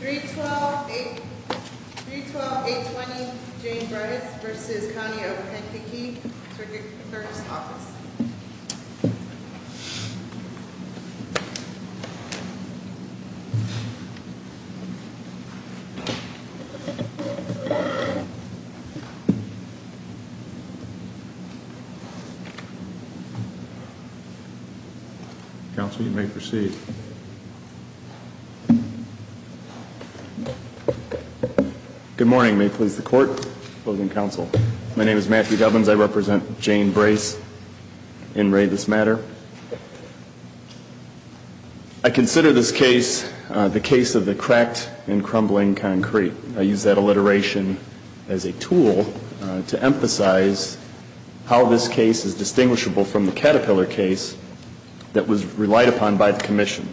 312-820 James Reis v. County of Penkeke, Circuit Authority's Office Counsel, you may proceed Good morning. May it please the Court, Opposing Counsel. My name is Matthew Govans. I represent Jane Brais, in Ray this matter. I consider this case the case of the cracked and crumbling concrete. I use that alliteration as a tool to emphasize how this case is distinguishable from the Caterpillar case that was relied upon by the Commission.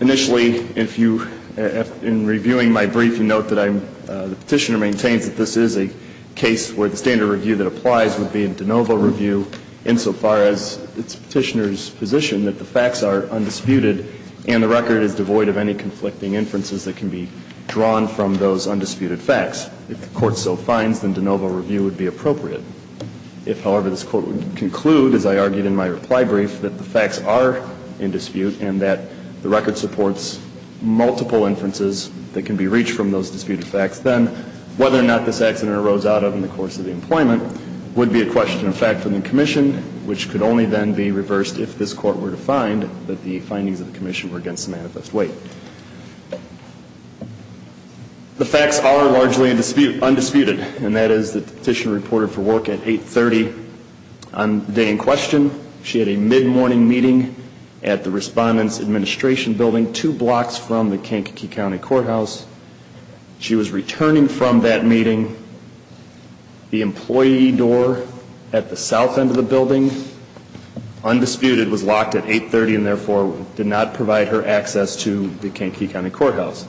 Initially, in reviewing my brief, you note that the Petitioner maintains that this is a case where the standard review that applies would be a de novo review insofar as it's Petitioner's position that the facts are undisputed and the record is devoid of any conflicting inferences that can be drawn from those undisputed facts. If the Court so finds, then de novo review would be appropriate. If, however, this Court would conclude, as I argued in my reply brief, that the facts are in dispute and that the record supports multiple inferences that can be reached from those disputed facts, then whether or not this accident arose out of, in the course of the employment, would be a question of fact for the Commission, which could only then be reversed if this Court were to find that the findings of the Commission were against manifest weight. The facts are largely undisputed, and that is that the Petitioner reported for work at 8.30 on the day in question. She had a mid-morning meeting at the Respondent's Administration Building, two blocks from the Kankakee County Courthouse. She was returning from that meeting. The employee door at the south end of the building, undisputed, was locked at 8.30 and therefore did not provide her access to the Kankakee County Courthouse.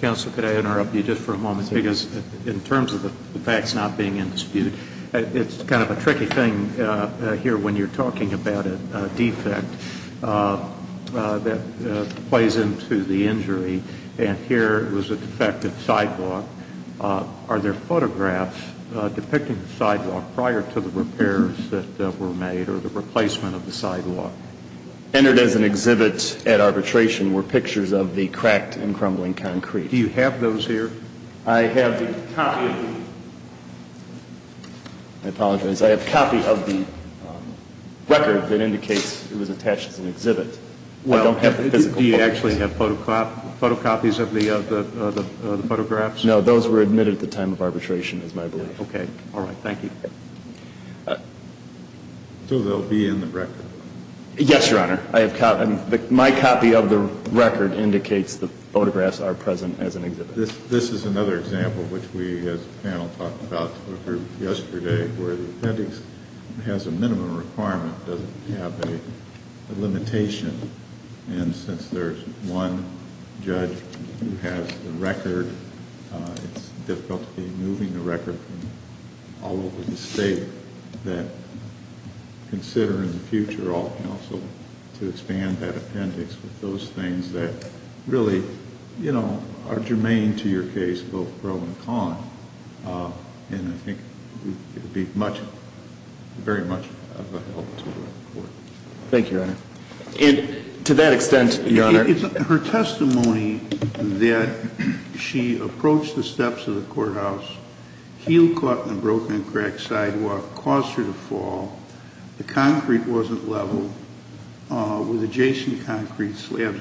Counsel, could I interrupt you just for a moment? Because in terms of the facts not being in dispute, it's kind of a tricky thing here when you're talking about a defect that plays into the injury. And here it was a defective sidewalk. Are there photographs depicting the sidewalk prior to the repairs that were made or the replacement of the sidewalk? Entered as an exhibit at arbitration were pictures of the cracked and crumbling concrete. Do you have those here? I have the copy of the record that indicates it was attached as an exhibit. I don't have the physical. Do you actually have photocopies of the photographs? No, those were admitted at the time of arbitration, is my belief. Okay. All right. Thank you. So they'll be in the record? Yes, Your Honor. My copy of the record indicates the photographs are present as an exhibit. This is another example which we as a panel talked about yesterday where the appendix has a minimum requirement, doesn't have a limitation. And since there's one judge who has the record, it's difficult to be moving the record from all over the state that consider in the future all counsel to expand that appendix with those things that really are germane to your case, both pro and con. And I think it would be very much of a help to the court. Thank you, Your Honor. And to that extent, Your Honor? Her testimony that she approached the steps of the courthouse, heel caught in the broken and cracked sidewalk, caused her to fall, the concrete wasn't level, with adjacent concrete slabs,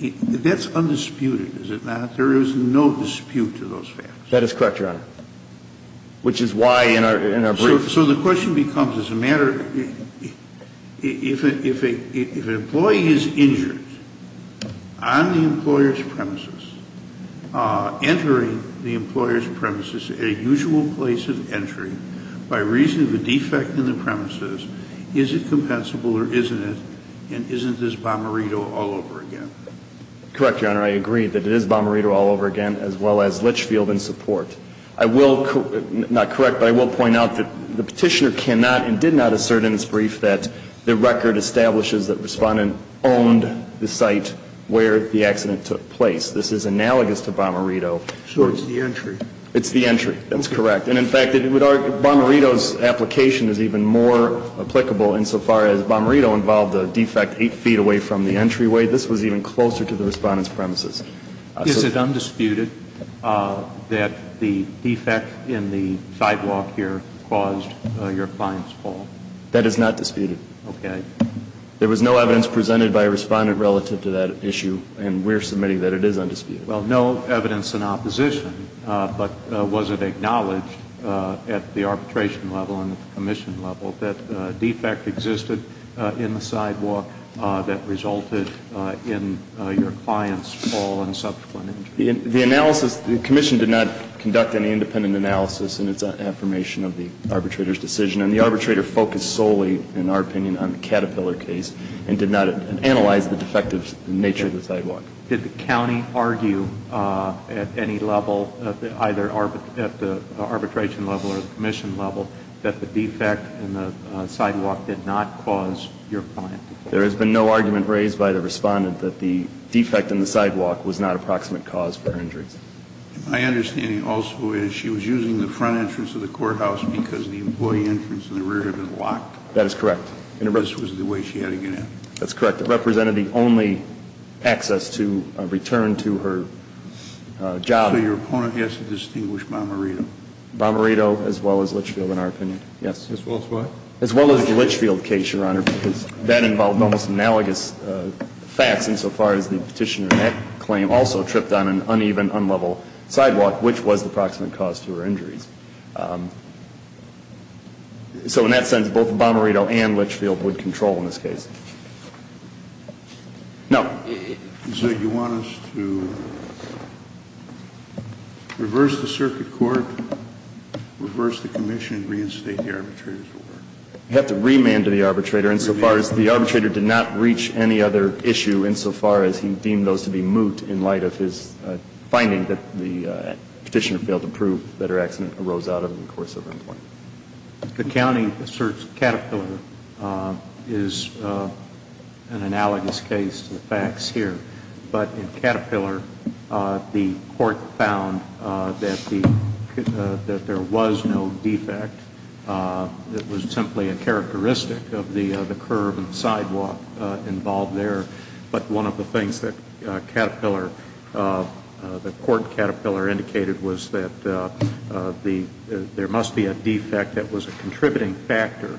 that's undisputed, is it not? There is no dispute to those facts. That is correct, Your Honor, which is why in our briefs. So the question becomes, if an employee is injured on the employer's premises, entering the employer's premises at a usual place of entry by reason of a defect in the premises, is it compensable or isn't it? And isn't this bomberito all over again? Correct, Your Honor. I agree that it is bomberito all over again, as well as Litchfield in support. I will, not correct, but I will point out that the Petitioner cannot and did not assert in his brief that the record establishes that Respondent owned the site where the accident took place. This is analogous to bomberito. So it's the entry? It's the entry. That's correct. And in fact, bomberito's application is even more applicable insofar as bomberito involved a defect 8 feet away from the entryway. This was even closer to the Respondent's premises. Is it undisputed that the defect in the sidewalk here caused your client's fall? That is not disputed. Okay. There was no evidence presented by a Respondent relative to that issue, and we're submitting that it is undisputed. Well, no evidence in opposition, but was it acknowledged at the arbitration level and at the commission level that a defect existed in the sidewalk that resulted in your client's fall and subsequent injury? The analysis, the commission did not conduct any independent analysis in its affirmation of the arbitrator's decision, and the arbitrator focused solely, in our opinion, on the Caterpillar case and did not analyze the defective nature of the sidewalk. Did the county argue at any level, either at the arbitration level or the commission level, that the defect in the sidewalk did not cause your client to fall? There has been no argument raised by the Respondent that the defect in the sidewalk was not a proximate cause for her injuries. My understanding also is she was using the front entrance of the courthouse because the employee entrance and the rear had been locked. That is correct. And this was the way she had to get in. That's correct. It represented the only access to return to her job. So your opponent has to distinguish Bomarito. Bomarito, as well as Litchfield, in our opinion. Yes. As well as what? As well as the Litchfield case, Your Honor, because that involved almost analogous facts insofar as the petitioner in that claim also tripped on an uneven, unlevel sidewalk, which was the proximate cause to her injuries. So in that sense, both Bomarito and Litchfield would control in this case. Now you want us to reverse the circuit court, reverse the commission, and reinstate the arbitrators? We have to remand to the arbitrator insofar as the arbitrator did not reach any other issue insofar as he deemed those to be moot in light of his finding that the petitioner failed to prove that her accident arose out of the course of her employment. The county asserts Caterpillar is an analogous case to the facts here, but in Caterpillar the court found that there was no defect. It was simply a characteristic of the curve and sidewalk involved there. But one of the things that Caterpillar, the court Caterpillar indicated was that there must be a defect that was a contributing factor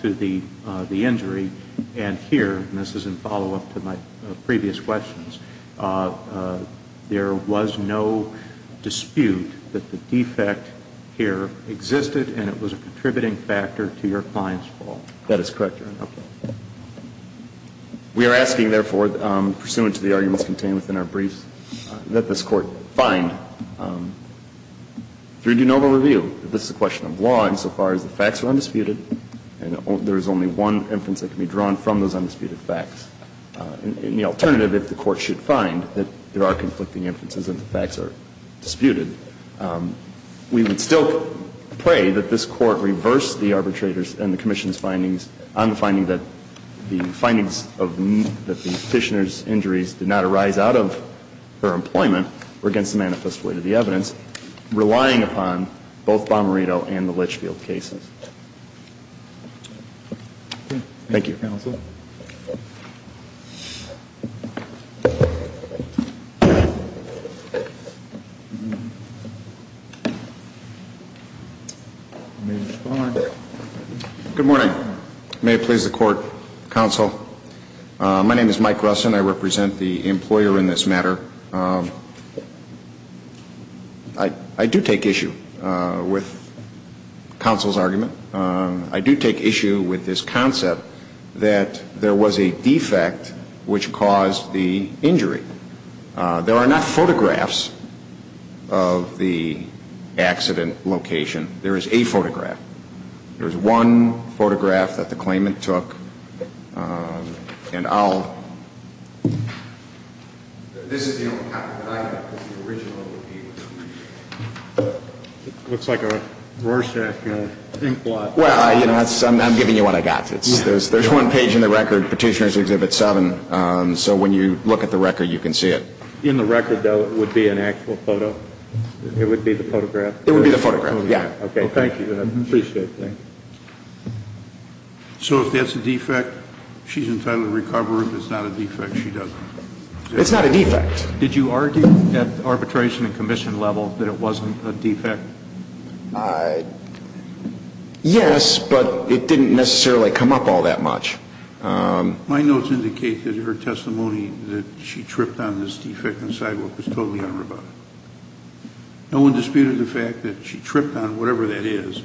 to the injury. And here, and this is in follow-up to my previous questions, there was no dispute that the defect here existed and it was a contributing factor to your client's fall. That is correct, Your Honor. We are asking, therefore, pursuant to the arguments contained within our briefs, that this Court find through de novo review that this is a question of law insofar as the facts are undisputed. And there is only one inference that can be drawn from those undisputed facts. And the alternative, if the Court should find that there are conflicting inferences and the facts are disputed, we would still pray that this Court reverse the arbitrator's and the commission's findings on the finding that the findings of the petitioner's injuries did not arise out of her employment or against the manifest weight of the evidence, relying upon both Bomarito and the Litchfield cases. Thank you. Thank you, Counsel. Good morning. May it please the Court, Counsel. My name is Mike Grusin. I represent the employer in this matter. I do take issue with Counsel's argument. I do take issue with this concept that there was a defect which caused the injury. There are not photographs of the accident location. There is a photograph. There is one photograph that the claimant took. And I'll – this is the only copy that I have of the original. It looks like a Rorschach inkblot. Well, you know, I'm giving you what I got. There's one page in the record, Petitioner's Exhibit 7. So when you look at the record, you can see it. In the record, though, it would be an actual photo? It would be the photograph? It would be the photograph, yeah. Okay. Thank you. I appreciate it. Thank you. So if there's a defect, she's entitled to recover it. If it's not a defect, she doesn't. It's not a defect. Did you argue at arbitration and commission level that it wasn't a defect? Yes, but it didn't necessarily come up all that much. My notes indicate that her testimony that she tripped on this defect on the sidewalk was totally unrebutted. No one disputed the fact that she tripped on whatever that is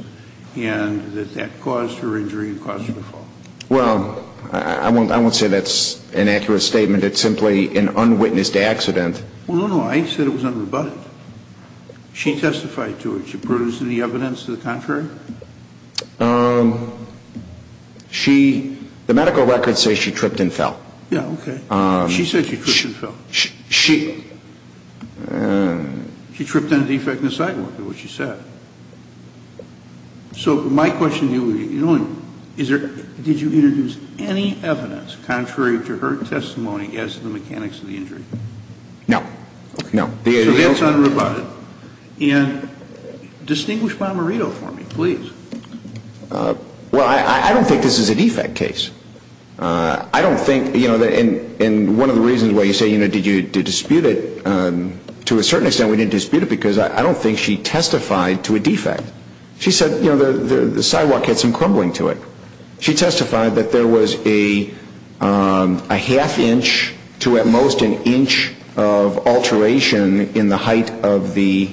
and that that caused her injury and caused her to fall. Well, I won't say that's an accurate statement. It's simply an unwitnessed accident. Well, no, no. I said it was unrebutted. She testified to it. She produced any evidence to the contrary? She, the medical records say she tripped and fell. Yeah, okay. She said she tripped and fell. She tripped on a defect on the sidewalk, is what she said. So my question to you is did you introduce any evidence contrary to her testimony as to the mechanics of the injury? No, no. So that's unrebutted. And distinguish Marmorito for me, please. Well, I don't think this is a defect case. I don't think, you know, and one of the reasons why you say, you know, did you dispute it, to a certain extent we didn't dispute it because I don't think she testified to a defect. She said, you know, the sidewalk had some crumbling to it. She testified that there was a half inch to at most an inch of alteration in the height of the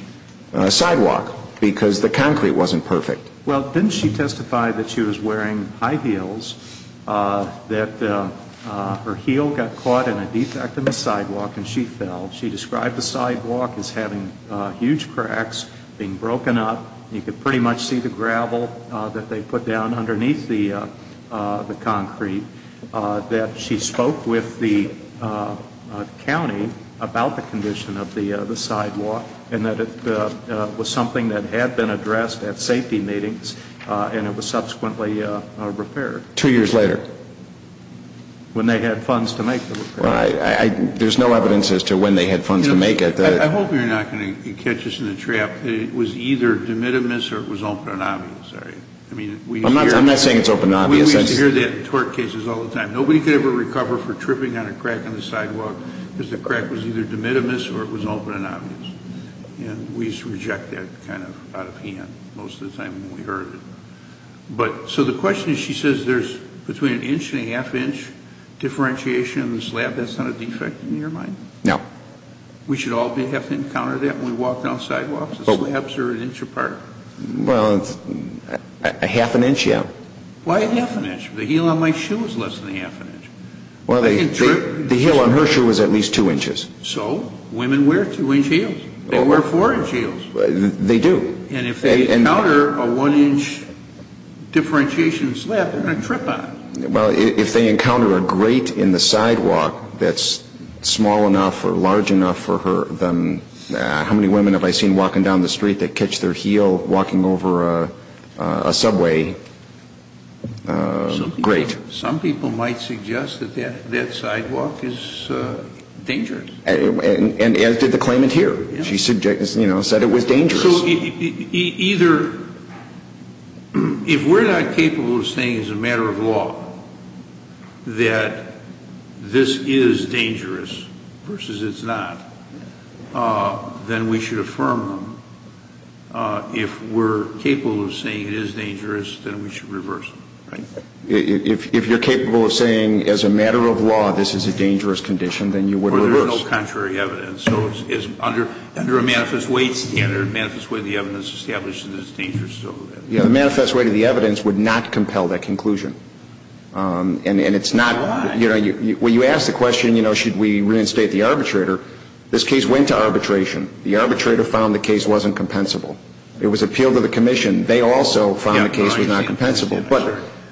sidewalk because the concrete wasn't perfect. Well, didn't she testify that she was wearing high heels, that her heel got caught in a defect in the sidewalk and she fell? She described the sidewalk as having huge cracks, being broken up. You could pretty much see the gravel that they put down underneath the concrete. That she spoke with the county about the condition of the sidewalk and that it was something that had been addressed at safety meetings and it was subsequently repaired. Two years later? When they had funds to make the repair. There's no evidence as to when they had funds to make it. I hope you're not going to catch us in the trap. It was either de minimis or it was open and obvious. I'm not saying it's open and obvious. We hear that in tort cases all the time. Nobody could ever recover for tripping on a crack in the sidewalk because the crack was either de minimis or it was open and obvious. And we used to reject that kind of out of hand most of the time when we heard it. So the question is, she says there's between an inch and a half inch differentiation in the slab. That's not a defect in your mind? No. We should all have to encounter that when we walk down sidewalks? Slabs are an inch apart. Well, a half an inch, yeah. Why a half an inch? The heel on my shoe was less than a half an inch. The heel on her shoe was at least two inches. So? Women wear two-inch heels. They wear four-inch heels. They do. And if they encounter a one-inch differentiation slab, they're going to trip on it. Well, if they encounter a grate in the sidewalk that's small enough or large enough for her than how many women have I seen walking down the street that catch their heel walking over a subway grate? Some people might suggest that that sidewalk is dangerous. And as did the claimant here. She said it was dangerous. So either if we're not capable of saying as a matter of law that this is dangerous versus it's not, then we should affirm them. If we're capable of saying it is dangerous, then we should reverse it. If you're capable of saying as a matter of law this is a dangerous condition, then you would reverse it. Or there's no contrary evidence. So under a manifest weight standard, manifest weight of the evidence establishes that it's dangerous. Yeah, the manifest weight of the evidence would not compel that conclusion. And it's not, you know, when you ask the question, you know, should we reinstate the arbitrator? This case went to arbitration. The arbitrator found the case wasn't compensable. It was appealed to the commission. They also found the case was not compensable.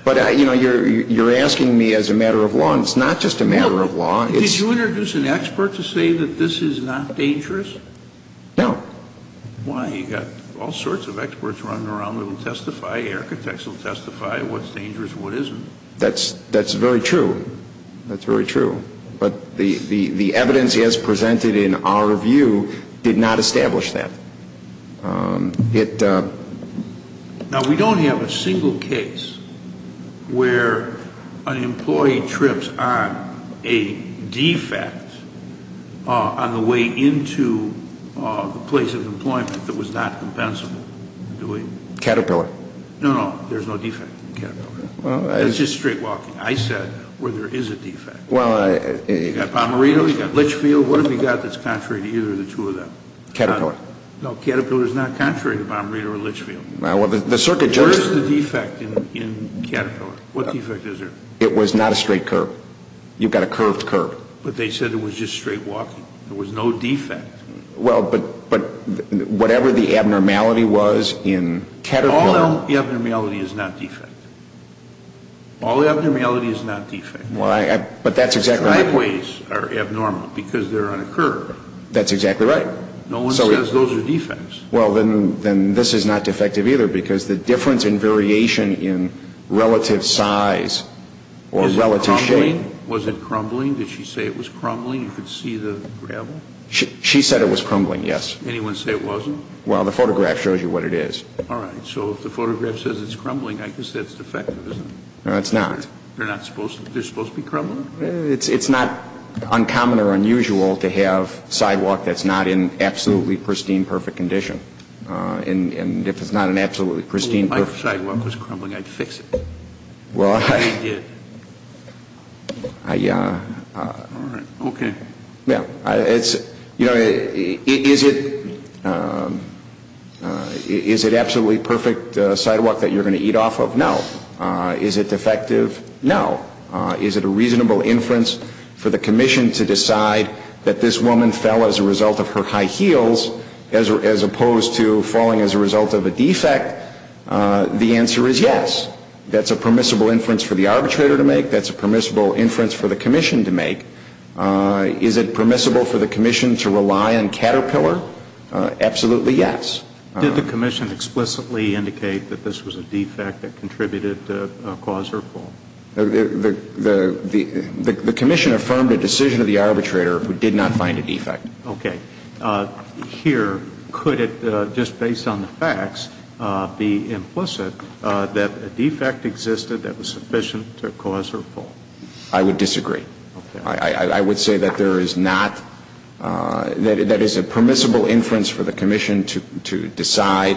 But, you know, you're asking me as a matter of law. And it's not just a matter of law. Did you introduce an expert to say that this is not dangerous? No. Why? You've got all sorts of experts running around that will testify. Architects will testify what's dangerous and what isn't. That's very true. That's very true. But the evidence as presented in our review did not establish that. Now, we don't have a single case where an employee trips on a defect on the way into the place of employment that was not compensable. Do we? Caterpillar. No, no. There's no defect in Caterpillar. That's just straight walking. I said where there is a defect. You've got Pomerino. You've got Litchfield. What have you got that's contrary to either of the two of them? Caterpillar. No, Caterpillar is not contrary to Pomerino or Litchfield. Where is the defect in Caterpillar? What defect is there? It was not a straight curve. You've got a curved curve. But they said it was just straight walking. There was no defect. Well, but whatever the abnormality was in Caterpillar. All abnormality is not defect. All abnormality is not defect. But that's exactly right. Sideways are abnormal because they're on a curve. That's exactly right. No one says those are defects. Well, then this is not defective either because the difference in variation in relative size or relative shape. Is it crumbling? Was it crumbling? Did she say it was crumbling? You could see the gravel? She said it was crumbling, yes. Anyone say it wasn't? Well, the photograph shows you what it is. All right. So if the photograph says it's crumbling, I guess that's defective, isn't it? No, it's not. They're supposed to be crumbling? It's not uncommon or unusual to have sidewalk that's not in absolutely pristine, perfect condition. And if it's not in absolutely pristine, perfect condition. Well, my sidewalk was crumbling. I had to fix it. Well, I did. All right. Okay. Yeah. It's, you know, is it absolutely perfect sidewalk that you're going to eat off of? No. Is it defective? No. Is it a reasonable inference for the commission to decide that this woman fell as a result of her high heels as opposed to falling as a result of a defect? The answer is yes. That's a permissible inference for the arbitrator to make. That's a permissible inference for the commission to make. Is it permissible for the commission to rely on Caterpillar? Absolutely yes. Did the commission explicitly indicate that this was a defect that contributed to cause her fall? The commission affirmed a decision of the arbitrator who did not find a defect. Okay. Here, could it just based on the facts be implicit that a defect existed that was sufficient to cause her fall? I would disagree. Okay. I would say that there is not that is a permissible inference for the commission to decide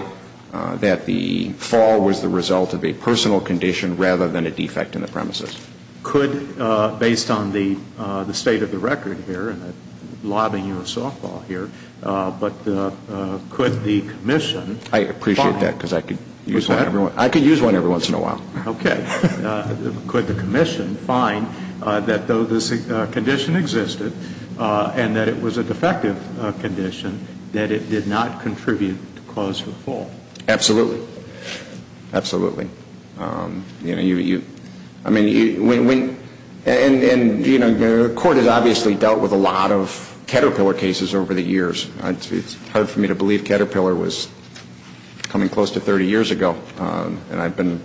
that the fall was the result of a personal condition rather than a defect in the premises. Could, based on the state of the record here and the lobbying of softball here, but could the commission find? I appreciate that because I could use one every once in a while. Okay. Could the commission find that though this condition existed and that it was a defective condition, that it did not contribute to cause her fall? Absolutely. Absolutely. You know, you, I mean, when, and, you know, the court has obviously dealt with a lot of Caterpillar cases over the years. It's hard for me to believe Caterpillar was coming close to 30 years ago. And I've been,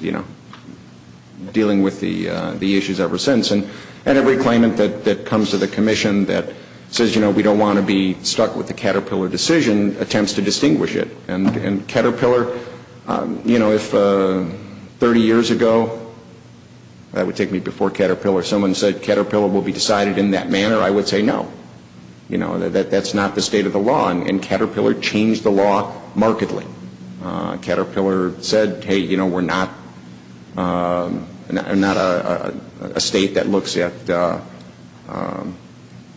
you know, dealing with the issues ever since. And every claimant that comes to the commission that says, you know, we don't want to be stuck with the Caterpillar decision attempts to distinguish it. And Caterpillar, you know, if 30 years ago, that would take me before Caterpillar, if someone said Caterpillar will be decided in that manner, I would say no. You know, that's not the state of the law. And Caterpillar changed the law markedly. Caterpillar said, hey, you know, we're not a state that looks at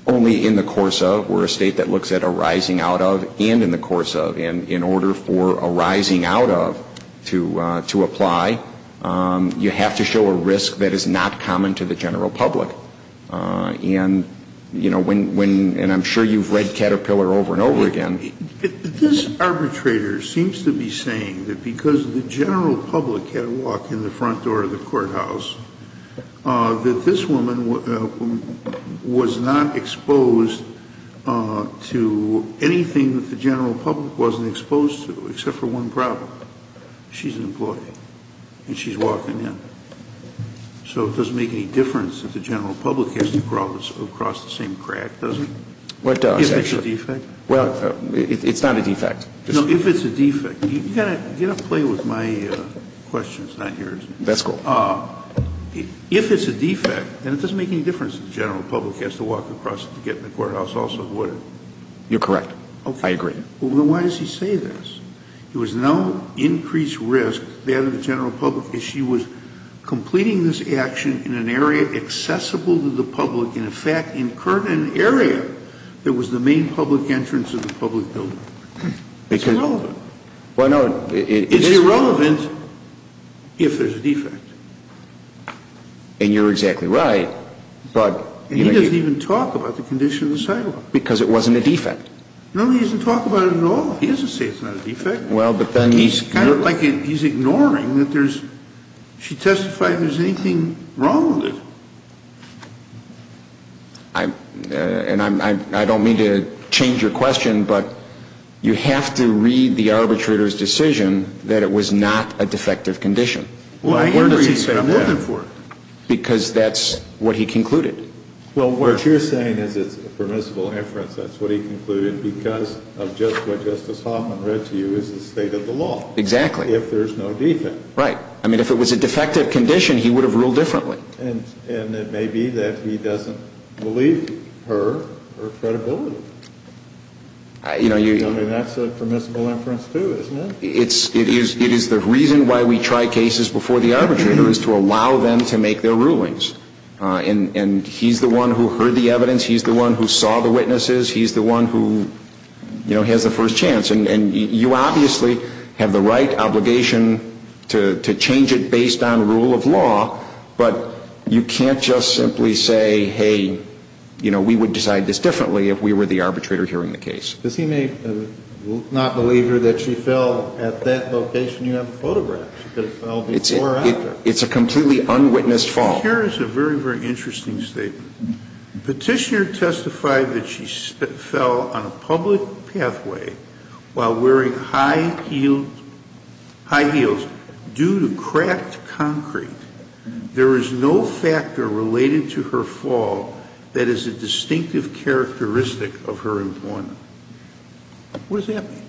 only in the course of. We're a state that looks at arising out of and in the course of. And in order for arising out of to apply, you have to show a risk that is not common to the general public. And, you know, when, and I'm sure you've read Caterpillar over and over again. But this arbitrator seems to be saying that because the general public had a walk in the front door of the courthouse, that this woman was not exposed to anything that the general public wasn't exposed to, except for one problem. She's an employee and she's walking in. So it doesn't make any difference that the general public has to cross the same crack, does it? If it's a defect? Well, it's not a defect. No, if it's a defect. You've got to get a play with my questions. It's not yours. That's cool. If it's a defect, then it doesn't make any difference that the general public has to walk across to get in the courthouse, also, would it? You're correct. I agree. Well, then why does he say this? There was no increased risk that the general public, as she was completing this action in an area accessible to the public, in fact, incurred an area that was the main public entrance of the public building. It's irrelevant. It's irrelevant if there's a defect. And you're exactly right. And he doesn't even talk about the condition of the sidewalk. Because it wasn't a defect. No, he doesn't talk about it at all. He doesn't say it's not a defect. He's kind of like he's ignoring that there's, she testified there's anything wrong with it. And I don't mean to change your question, but you have to read the arbitrator's decision that it was not a defective condition. Well, I agree, but I'm looking for it. Because that's what he concluded. Well, what you're saying is it's a permissible inference. That's what he concluded because of just what Justice Hoffman read to you is the state of the law. Exactly. If there's no defect. Right. I mean, if it was a defective condition, he would have ruled differently. And it may be that he doesn't believe her or her credibility. I mean, that's a permissible inference, too, isn't it? It is the reason why we try cases before the arbitrator is to allow them to make their rulings. And he's the one who heard the evidence. He's the one who saw the witnesses. He's the one who, you know, has the first chance. And you obviously have the right obligation to change it based on rule of law. But you can't just simply say, hey, you know, we would decide this differently if we were the arbitrator hearing the case. Because he may not believe her that she fell at that location you have the photograph. She could have fell before or after. It's a completely unwitnessed fall. But here is a very, very interesting statement. Petitioner testified that she fell on a public pathway while wearing high heels due to cracked concrete. There is no factor related to her fall that is a distinctive characteristic of her employment. What does that mean?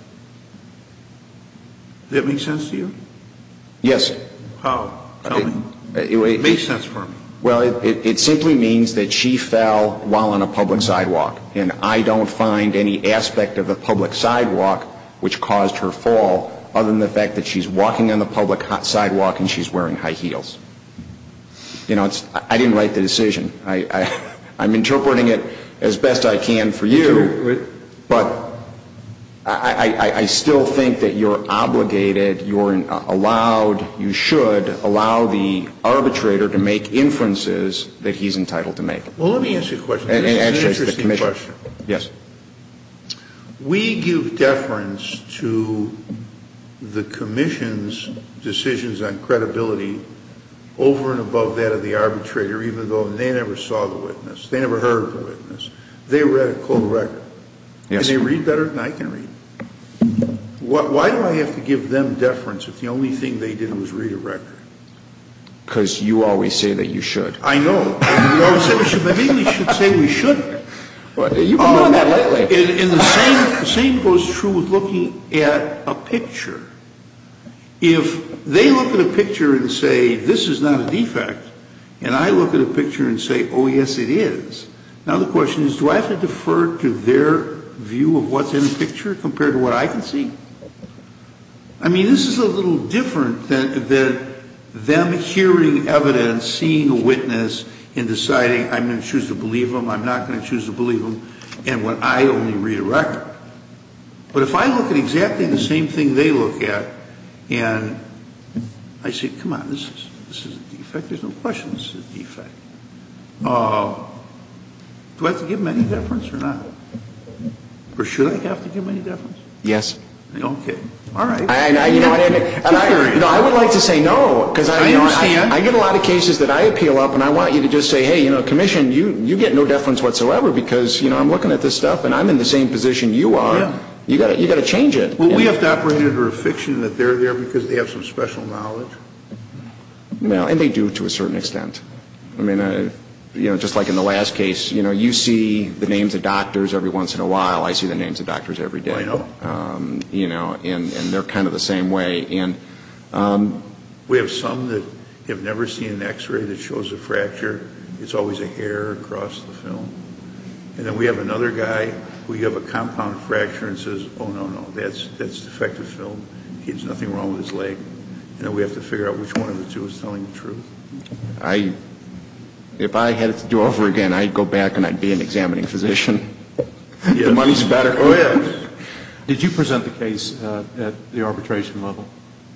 Does that make sense to you? Yes. How? Tell me. It makes sense for me. Well, it simply means that she fell while on a public sidewalk. And I don't find any aspect of a public sidewalk which caused her fall other than the fact that she's walking on the public sidewalk and she's wearing high heels. You know, I didn't write the decision. I'm interpreting it as best I can for you. But I still think that you're obligated, you're allowed, you should allow the arbitrator to make inferences that he's entitled to make. Well, let me ask you a question. It's an interesting question. Yes. We give deference to the commission's decisions on credibility over and above that of the arbitrator, even though they never saw the witness. They never heard of the witness. They read a cold record. Yes. And they read better than I can read. Why do I have to give them deference if the only thing they did was read a record? Because you always say that you should. I know. We always say we should, but maybe we should say we shouldn't. You've been doing that lately. And the same goes true with looking at a picture. If they look at a picture and say, this is not a defect, and I look at a picture and say, oh, yes, it is, now the question is, do I have to defer to their view of what's in the picture compared to what I can see? I mean, this is a little different than them hearing evidence, seeing a witness, and deciding I'm going to choose to believe them, I'm not going to choose to believe them, and would I only read a record. But if I look at exactly the same thing they look at and I say, come on, this is a defect, there's no question this is a defect. Do I have to give them any deference or not? Or should I have to give them any deference? Yes. Okay. All right. I would like to say no, because I get a lot of cases that I appeal up and I want you to just say, hey, you know, commission, you get no deference whatsoever, because I'm looking at this stuff and I'm in the same position you are. You've got to change it. Well, we have to operate under a fiction that they're there because they have some special knowledge. Well, and they do to a certain extent. I mean, you know, just like in the last case, you know, you see the names of doctors every once in a while, I see the names of doctors every day. I know. You know, and they're kind of the same way. And we have some that have never seen an x-ray that shows a fracture, it's always a hair across the film. And then we have another guy who you have a compound fracture and says, oh, no, no, that's defective film, he has nothing wrong with his leg. You know, we have to figure out which one of the two is telling the truth. I, if I had to do it over again, I'd go back and I'd be an examining physician. The money's better. Oh, yeah. Did you present the case at the arbitration level?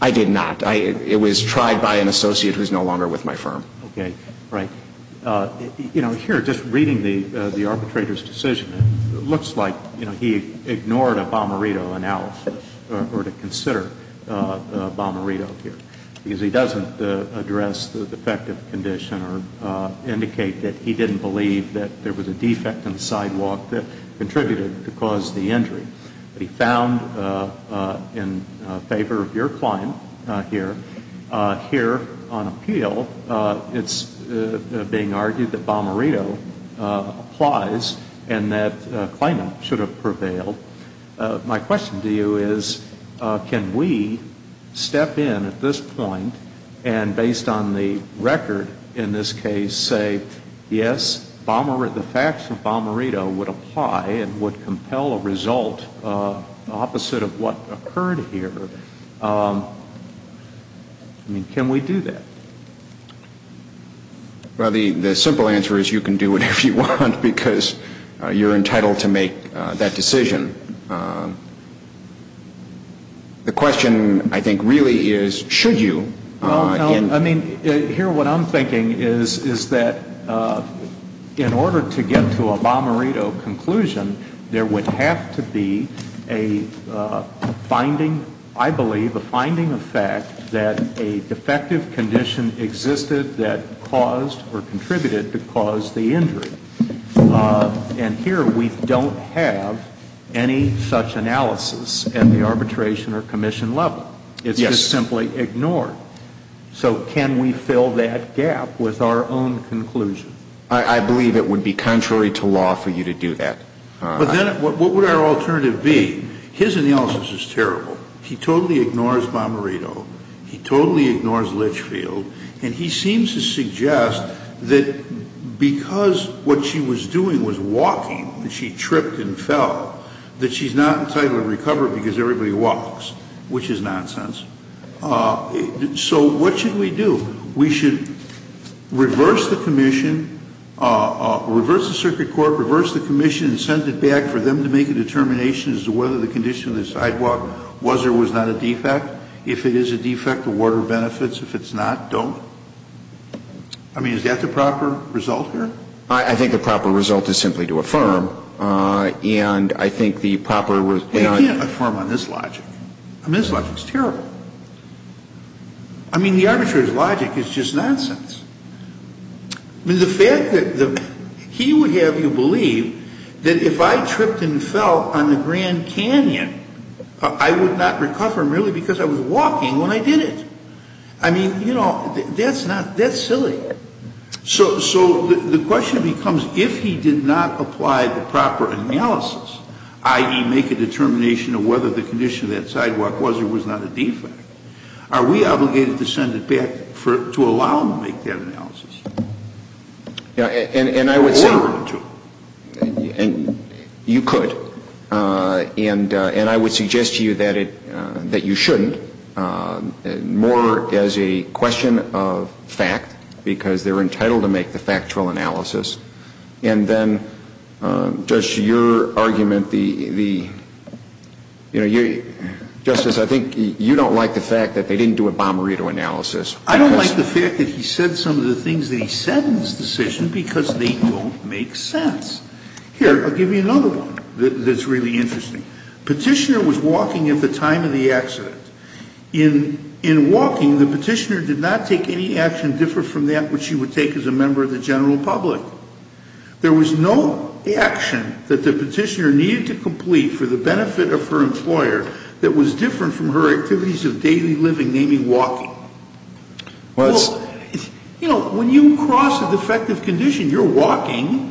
I did not. It was tried by an associate who's no longer with my firm. Okay. Right. You know, here, just reading the arbitrator's decision, it looks like, you know, he ignored a bomberito, or to consider a bomberito here, because he doesn't address the defective condition or indicate that he didn't believe that there was a defect in the sidewalk that contributed to cause the injury. But he found in favor of your claim here, here on appeal, it's being argued that bomberito applies and that claimant should have prevailed. My question to you is, can we step in at this point and, based on the record in this case, say, yes, the facts of bomberito would apply and would compel a result opposite of what occurred here? I mean, can we do that? Well, the simple answer is you can do whatever you want, because you're entitled to make that decision. The question, I think, really is, should you? No, no. I mean, here what I'm thinking is, is that in order to get to a bomberito conclusion, there would have to be a finding, I believe, a finding of fact that a defective condition existed that caused or contributed to cause the injury. And here we don't have any such analysis at the arbitration or commission level. It's just simply ignored. So can we fill that gap with our own conclusion? I believe it would be contrary to law for you to do that. But then what would our alternative be? His analysis is terrible. He totally ignores bomberito. He totally ignores Litchfield. And he seems to suggest that because what she was doing was walking and she tripped and fell, that she's not entitled to recover because everybody walks, which is nonsense. So what should we do? We should reverse the commission, reverse the circuit court, reverse the commission and send it back for them to make a determination as to whether the condition of the sidewalk was or was not a defect. If it is a defect, award her benefits. If it's not, don't. I mean, is that the proper result here? I think the proper result is simply to affirm. And I think the proper result to affirm on this logic. I mean, this logic is terrible. I mean, the arbitrator's logic is just nonsense. I mean, the fact that he would have you believe that if I tripped and fell on the Grand Canyon, I would not recover merely because I was walking when I did it. I mean, you know, that's silly. So the question becomes if he did not apply the proper analysis, i.e., make a determination of whether the condition of that sidewalk was or was not a defect, are we obligated to send it back to allow them to make that analysis? And I would say you could. And I would suggest to you that you shouldn't, more as a question of fact, because they're entitled to make the factual analysis. And then, Judge, your argument, the, you know, Justice, I think you don't like the fact that they didn't do a bomberito analysis. I don't like the fact that he said some of the things that he said in his decision because they don't make sense. Here, I'll give you another one that's really interesting. Petitioner was walking at the time of the accident. In walking, the petitioner did not take any action different from that which he would take as a member of the general public. There was no action that the petitioner needed to complete for the benefit of her employer that was different from her activities of daily living, namely walking. Well, it's you know, when you cross a defective condition, you're walking.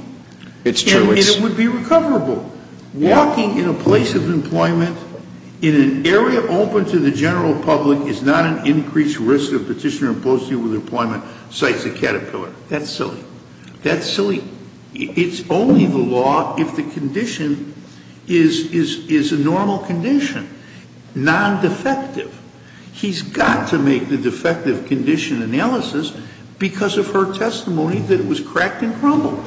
It's true. And it would be recoverable. Walking in a place of employment, in an area open to the general public, is not an increased risk of petitioner imposing with employment, cites a caterpillar. That's silly. It's only the law if the condition is a normal condition, non-defective. He's got to make the defective condition analysis because of her testimony that it was cracked and crumbled.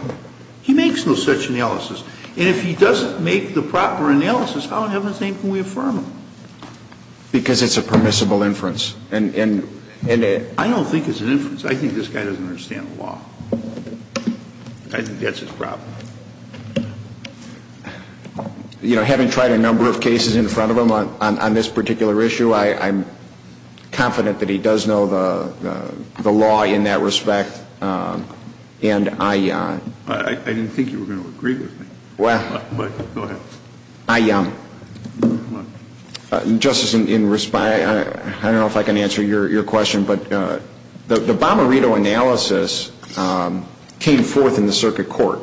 He makes no such analysis. And if he doesn't make the proper analysis, how in heaven's name can we affirm him? Because it's a permissible inference. I don't think it's an inference. I think this guy doesn't understand the law. I think that's his problem. You know, having tried a number of cases in front of him on this particular issue, I'm confident that he does know the law in that respect. And I – I didn't think you were going to agree with me. Well – Go ahead. I – Justice, I don't know if I can answer your question, but the Bomarito analysis came forth in the circuit court.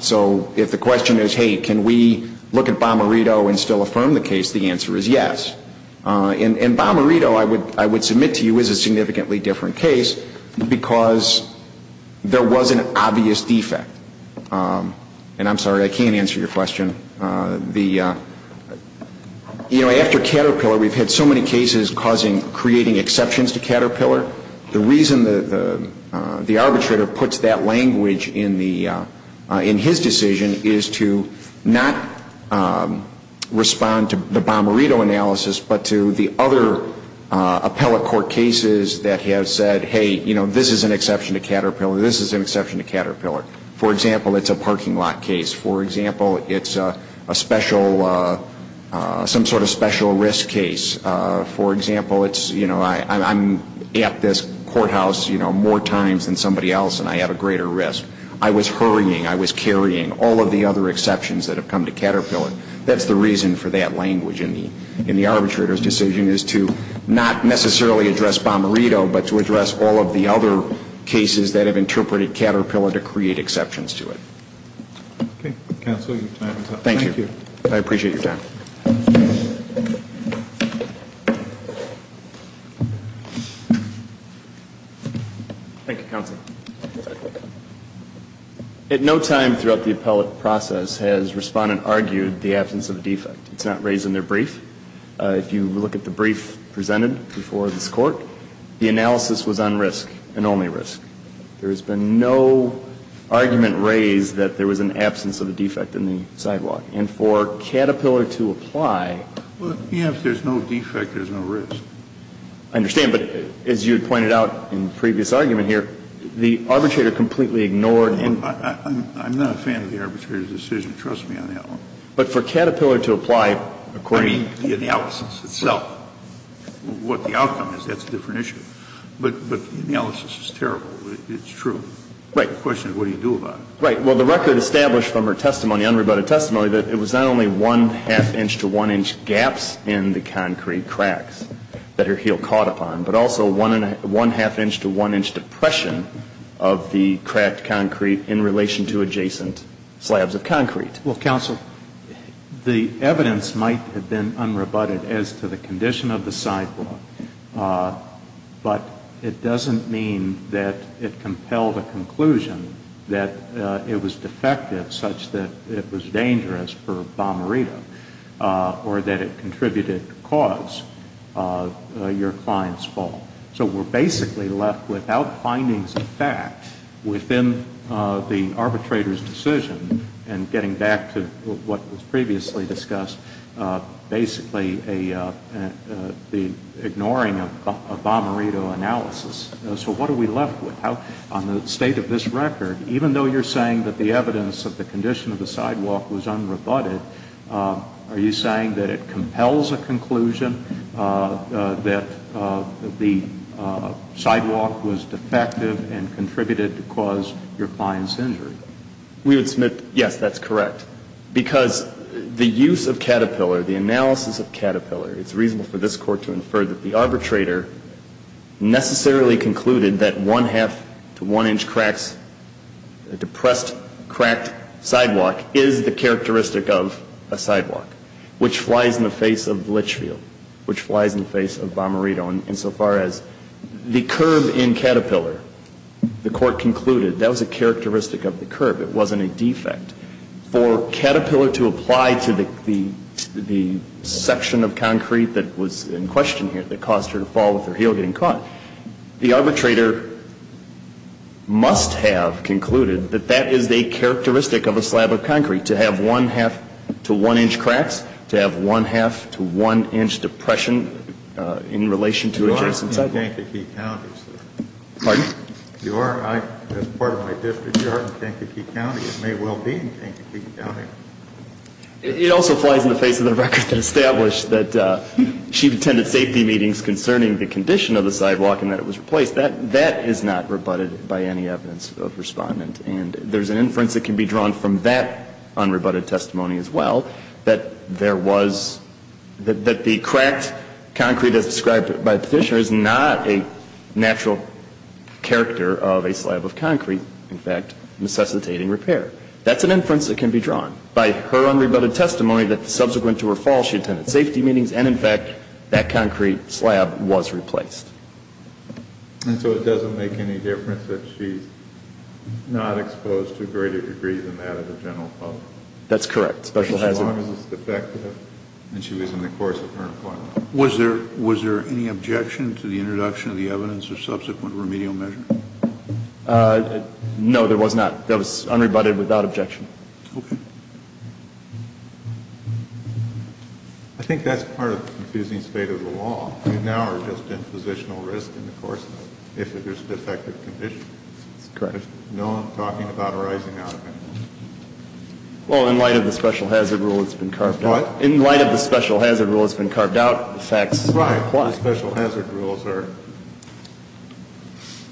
So if the question is, hey, can we look at Bomarito and still affirm the case, the answer is yes. And Bomarito, I would submit to you, is a significantly different case because there was an obvious defect. And I'm sorry, I can't answer your question. You know, after Caterpillar, we've had so many cases causing – creating exceptions to Caterpillar. The reason the arbitrator puts that language in the – in his decision is to not respond to the Bomarito analysis, but to the other appellate court cases that have said, hey, you know, this is an exception to Caterpillar, this is an exception to Caterpillar. For example, it's a parking lot case. For example, it's a special – some sort of special risk case. For example, it's, you know, I'm at this courthouse, you know, more times than somebody else and I have a greater risk. I was hurrying, I was carrying all of the other exceptions that have come to Caterpillar. That's the reason for that language in the arbitrator's decision is to not necessarily address Bomarito, but to address all of the other cases that have interpreted Caterpillar to create exceptions to it. Okay, counsel, your time is up. Thank you. I appreciate your time. Thank you, counsel. At no time throughout the appellate process has respondent argued the absence of a defect. It's not raised in their brief. If you look at the brief presented before this court, the analysis was on risk and only risk. There has been no argument raised that there was an absence of a defect in the sidewalk. And for Caterpillar to apply – Well, you know, if there's no defect, there's no risk. I understand. But as you had pointed out in the previous argument here, the arbitrator completely ignored – I'm not a fan of the arbitrator's decision. Trust me on that one. But for Caterpillar to apply according – I mean, the analysis itself. What the outcome is, that's a different issue. But the analysis is terrible. It's true. Right. The question is what do you do about it? Right. Well, the record established from her testimony, unrebutted testimony, that it was not only one half inch to one inch gaps in the concrete cracks that her heel caught upon, but also one half inch to one inch depression of the cracked concrete in relation to adjacent slabs of concrete. Well, counsel, the evidence might have been unrebutted as to the condition of the sidewalk. But it doesn't mean that it compelled a conclusion that it was defective such that it was dangerous for Bommarito or that it contributed to cause your client's fall. So we're basically left without findings of fact within the arbitrator's decision and getting back to what was previously discussed, basically the ignoring of Bommarito analysis. So what are we left with? On the state of this record, even though you're saying that the evidence of the condition of the sidewalk was unrebutted, are you saying that it compels a conclusion that the sidewalk was defective and contributed to cause your client's injury? We would submit, yes, that's correct. Because the use of Caterpillar, the analysis of Caterpillar, it's reasonable for this Court to infer that the arbitrator necessarily concluded that one half to one inch cracks, depressed cracked sidewalk, is the characteristic of a sidewalk, which flies in the face of Litchfield, which flies in the face of Bommarito. And so far as the curve in Caterpillar, the Court concluded that was a characteristic of the curve. It wasn't a defect. For Caterpillar to apply to the section of concrete that was in question here that caused her to fall with her heel getting caught, the arbitrator must have concluded that that is a characteristic of a slab of concrete, to have one half to one inch cracks, to have a condition to adjust the sidewalk. You are in Kankakee County, sir. Pardon? You are, I, as part of my district, you are in Kankakee County, and may well be in Kankakee County. It also flies in the face of the record that established that Chief Attendant safety meetings concerning the condition of the sidewalk and that it was replaced, that, that is not rebutted by any evidence of respondent. And there's an inference that can be drawn from that unrebutted testimony as well, that there was, that, that the cracked concrete as described by Petitioner is not a natural character of a slab of concrete, in fact, necessitating repair. That's an inference that can be drawn by her unrebutted testimony that subsequent to her fall, she attended safety meetings, and in fact, that concrete slab was replaced. And so it doesn't make any difference that she's not exposed to a greater degree than that of the general public? That's correct. Special hazard. As long as it's defective, and she was in the course of her employment. Was there, was there any objection to the introduction of the evidence of subsequent remedial measure? No, there was not. That was unrebutted without objection. Okay. I think that's part of the confusing state of the law. You now are just in positional risk in the course of, if it is a defective condition. That's correct. There's no talking about arising out of anything. Well, in light of the special hazard rule, it's been carved out. What? In light of the special hazard rule, it's been carved out. The facts apply. Right. The special hazard rules are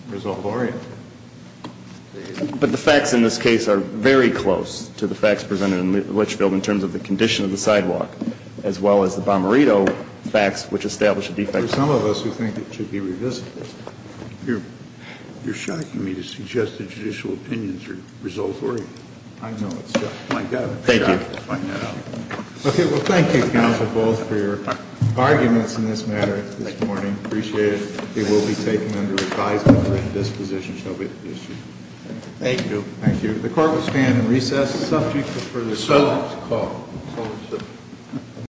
result-oriented. But the facts in this case are very close to the facts presented in Litchfield in terms of the condition of the sidewalk, as well as the Bomarito facts, which established a defective condition. There are some of us who think it should be revisited. You're shocking me to suggest that judicial opinions are result-oriented. I know. It's just my gut. Thank you. I'm shocked to find that out. Okay. Well, thank you, Counsel Bowles, for your arguments in this matter this morning. I appreciate it. It will be taken under advisement that this position shall be adjusted. Thank you. Thank you. Thank you. The Court will stand and recess the subject of further discussion. So called. So called.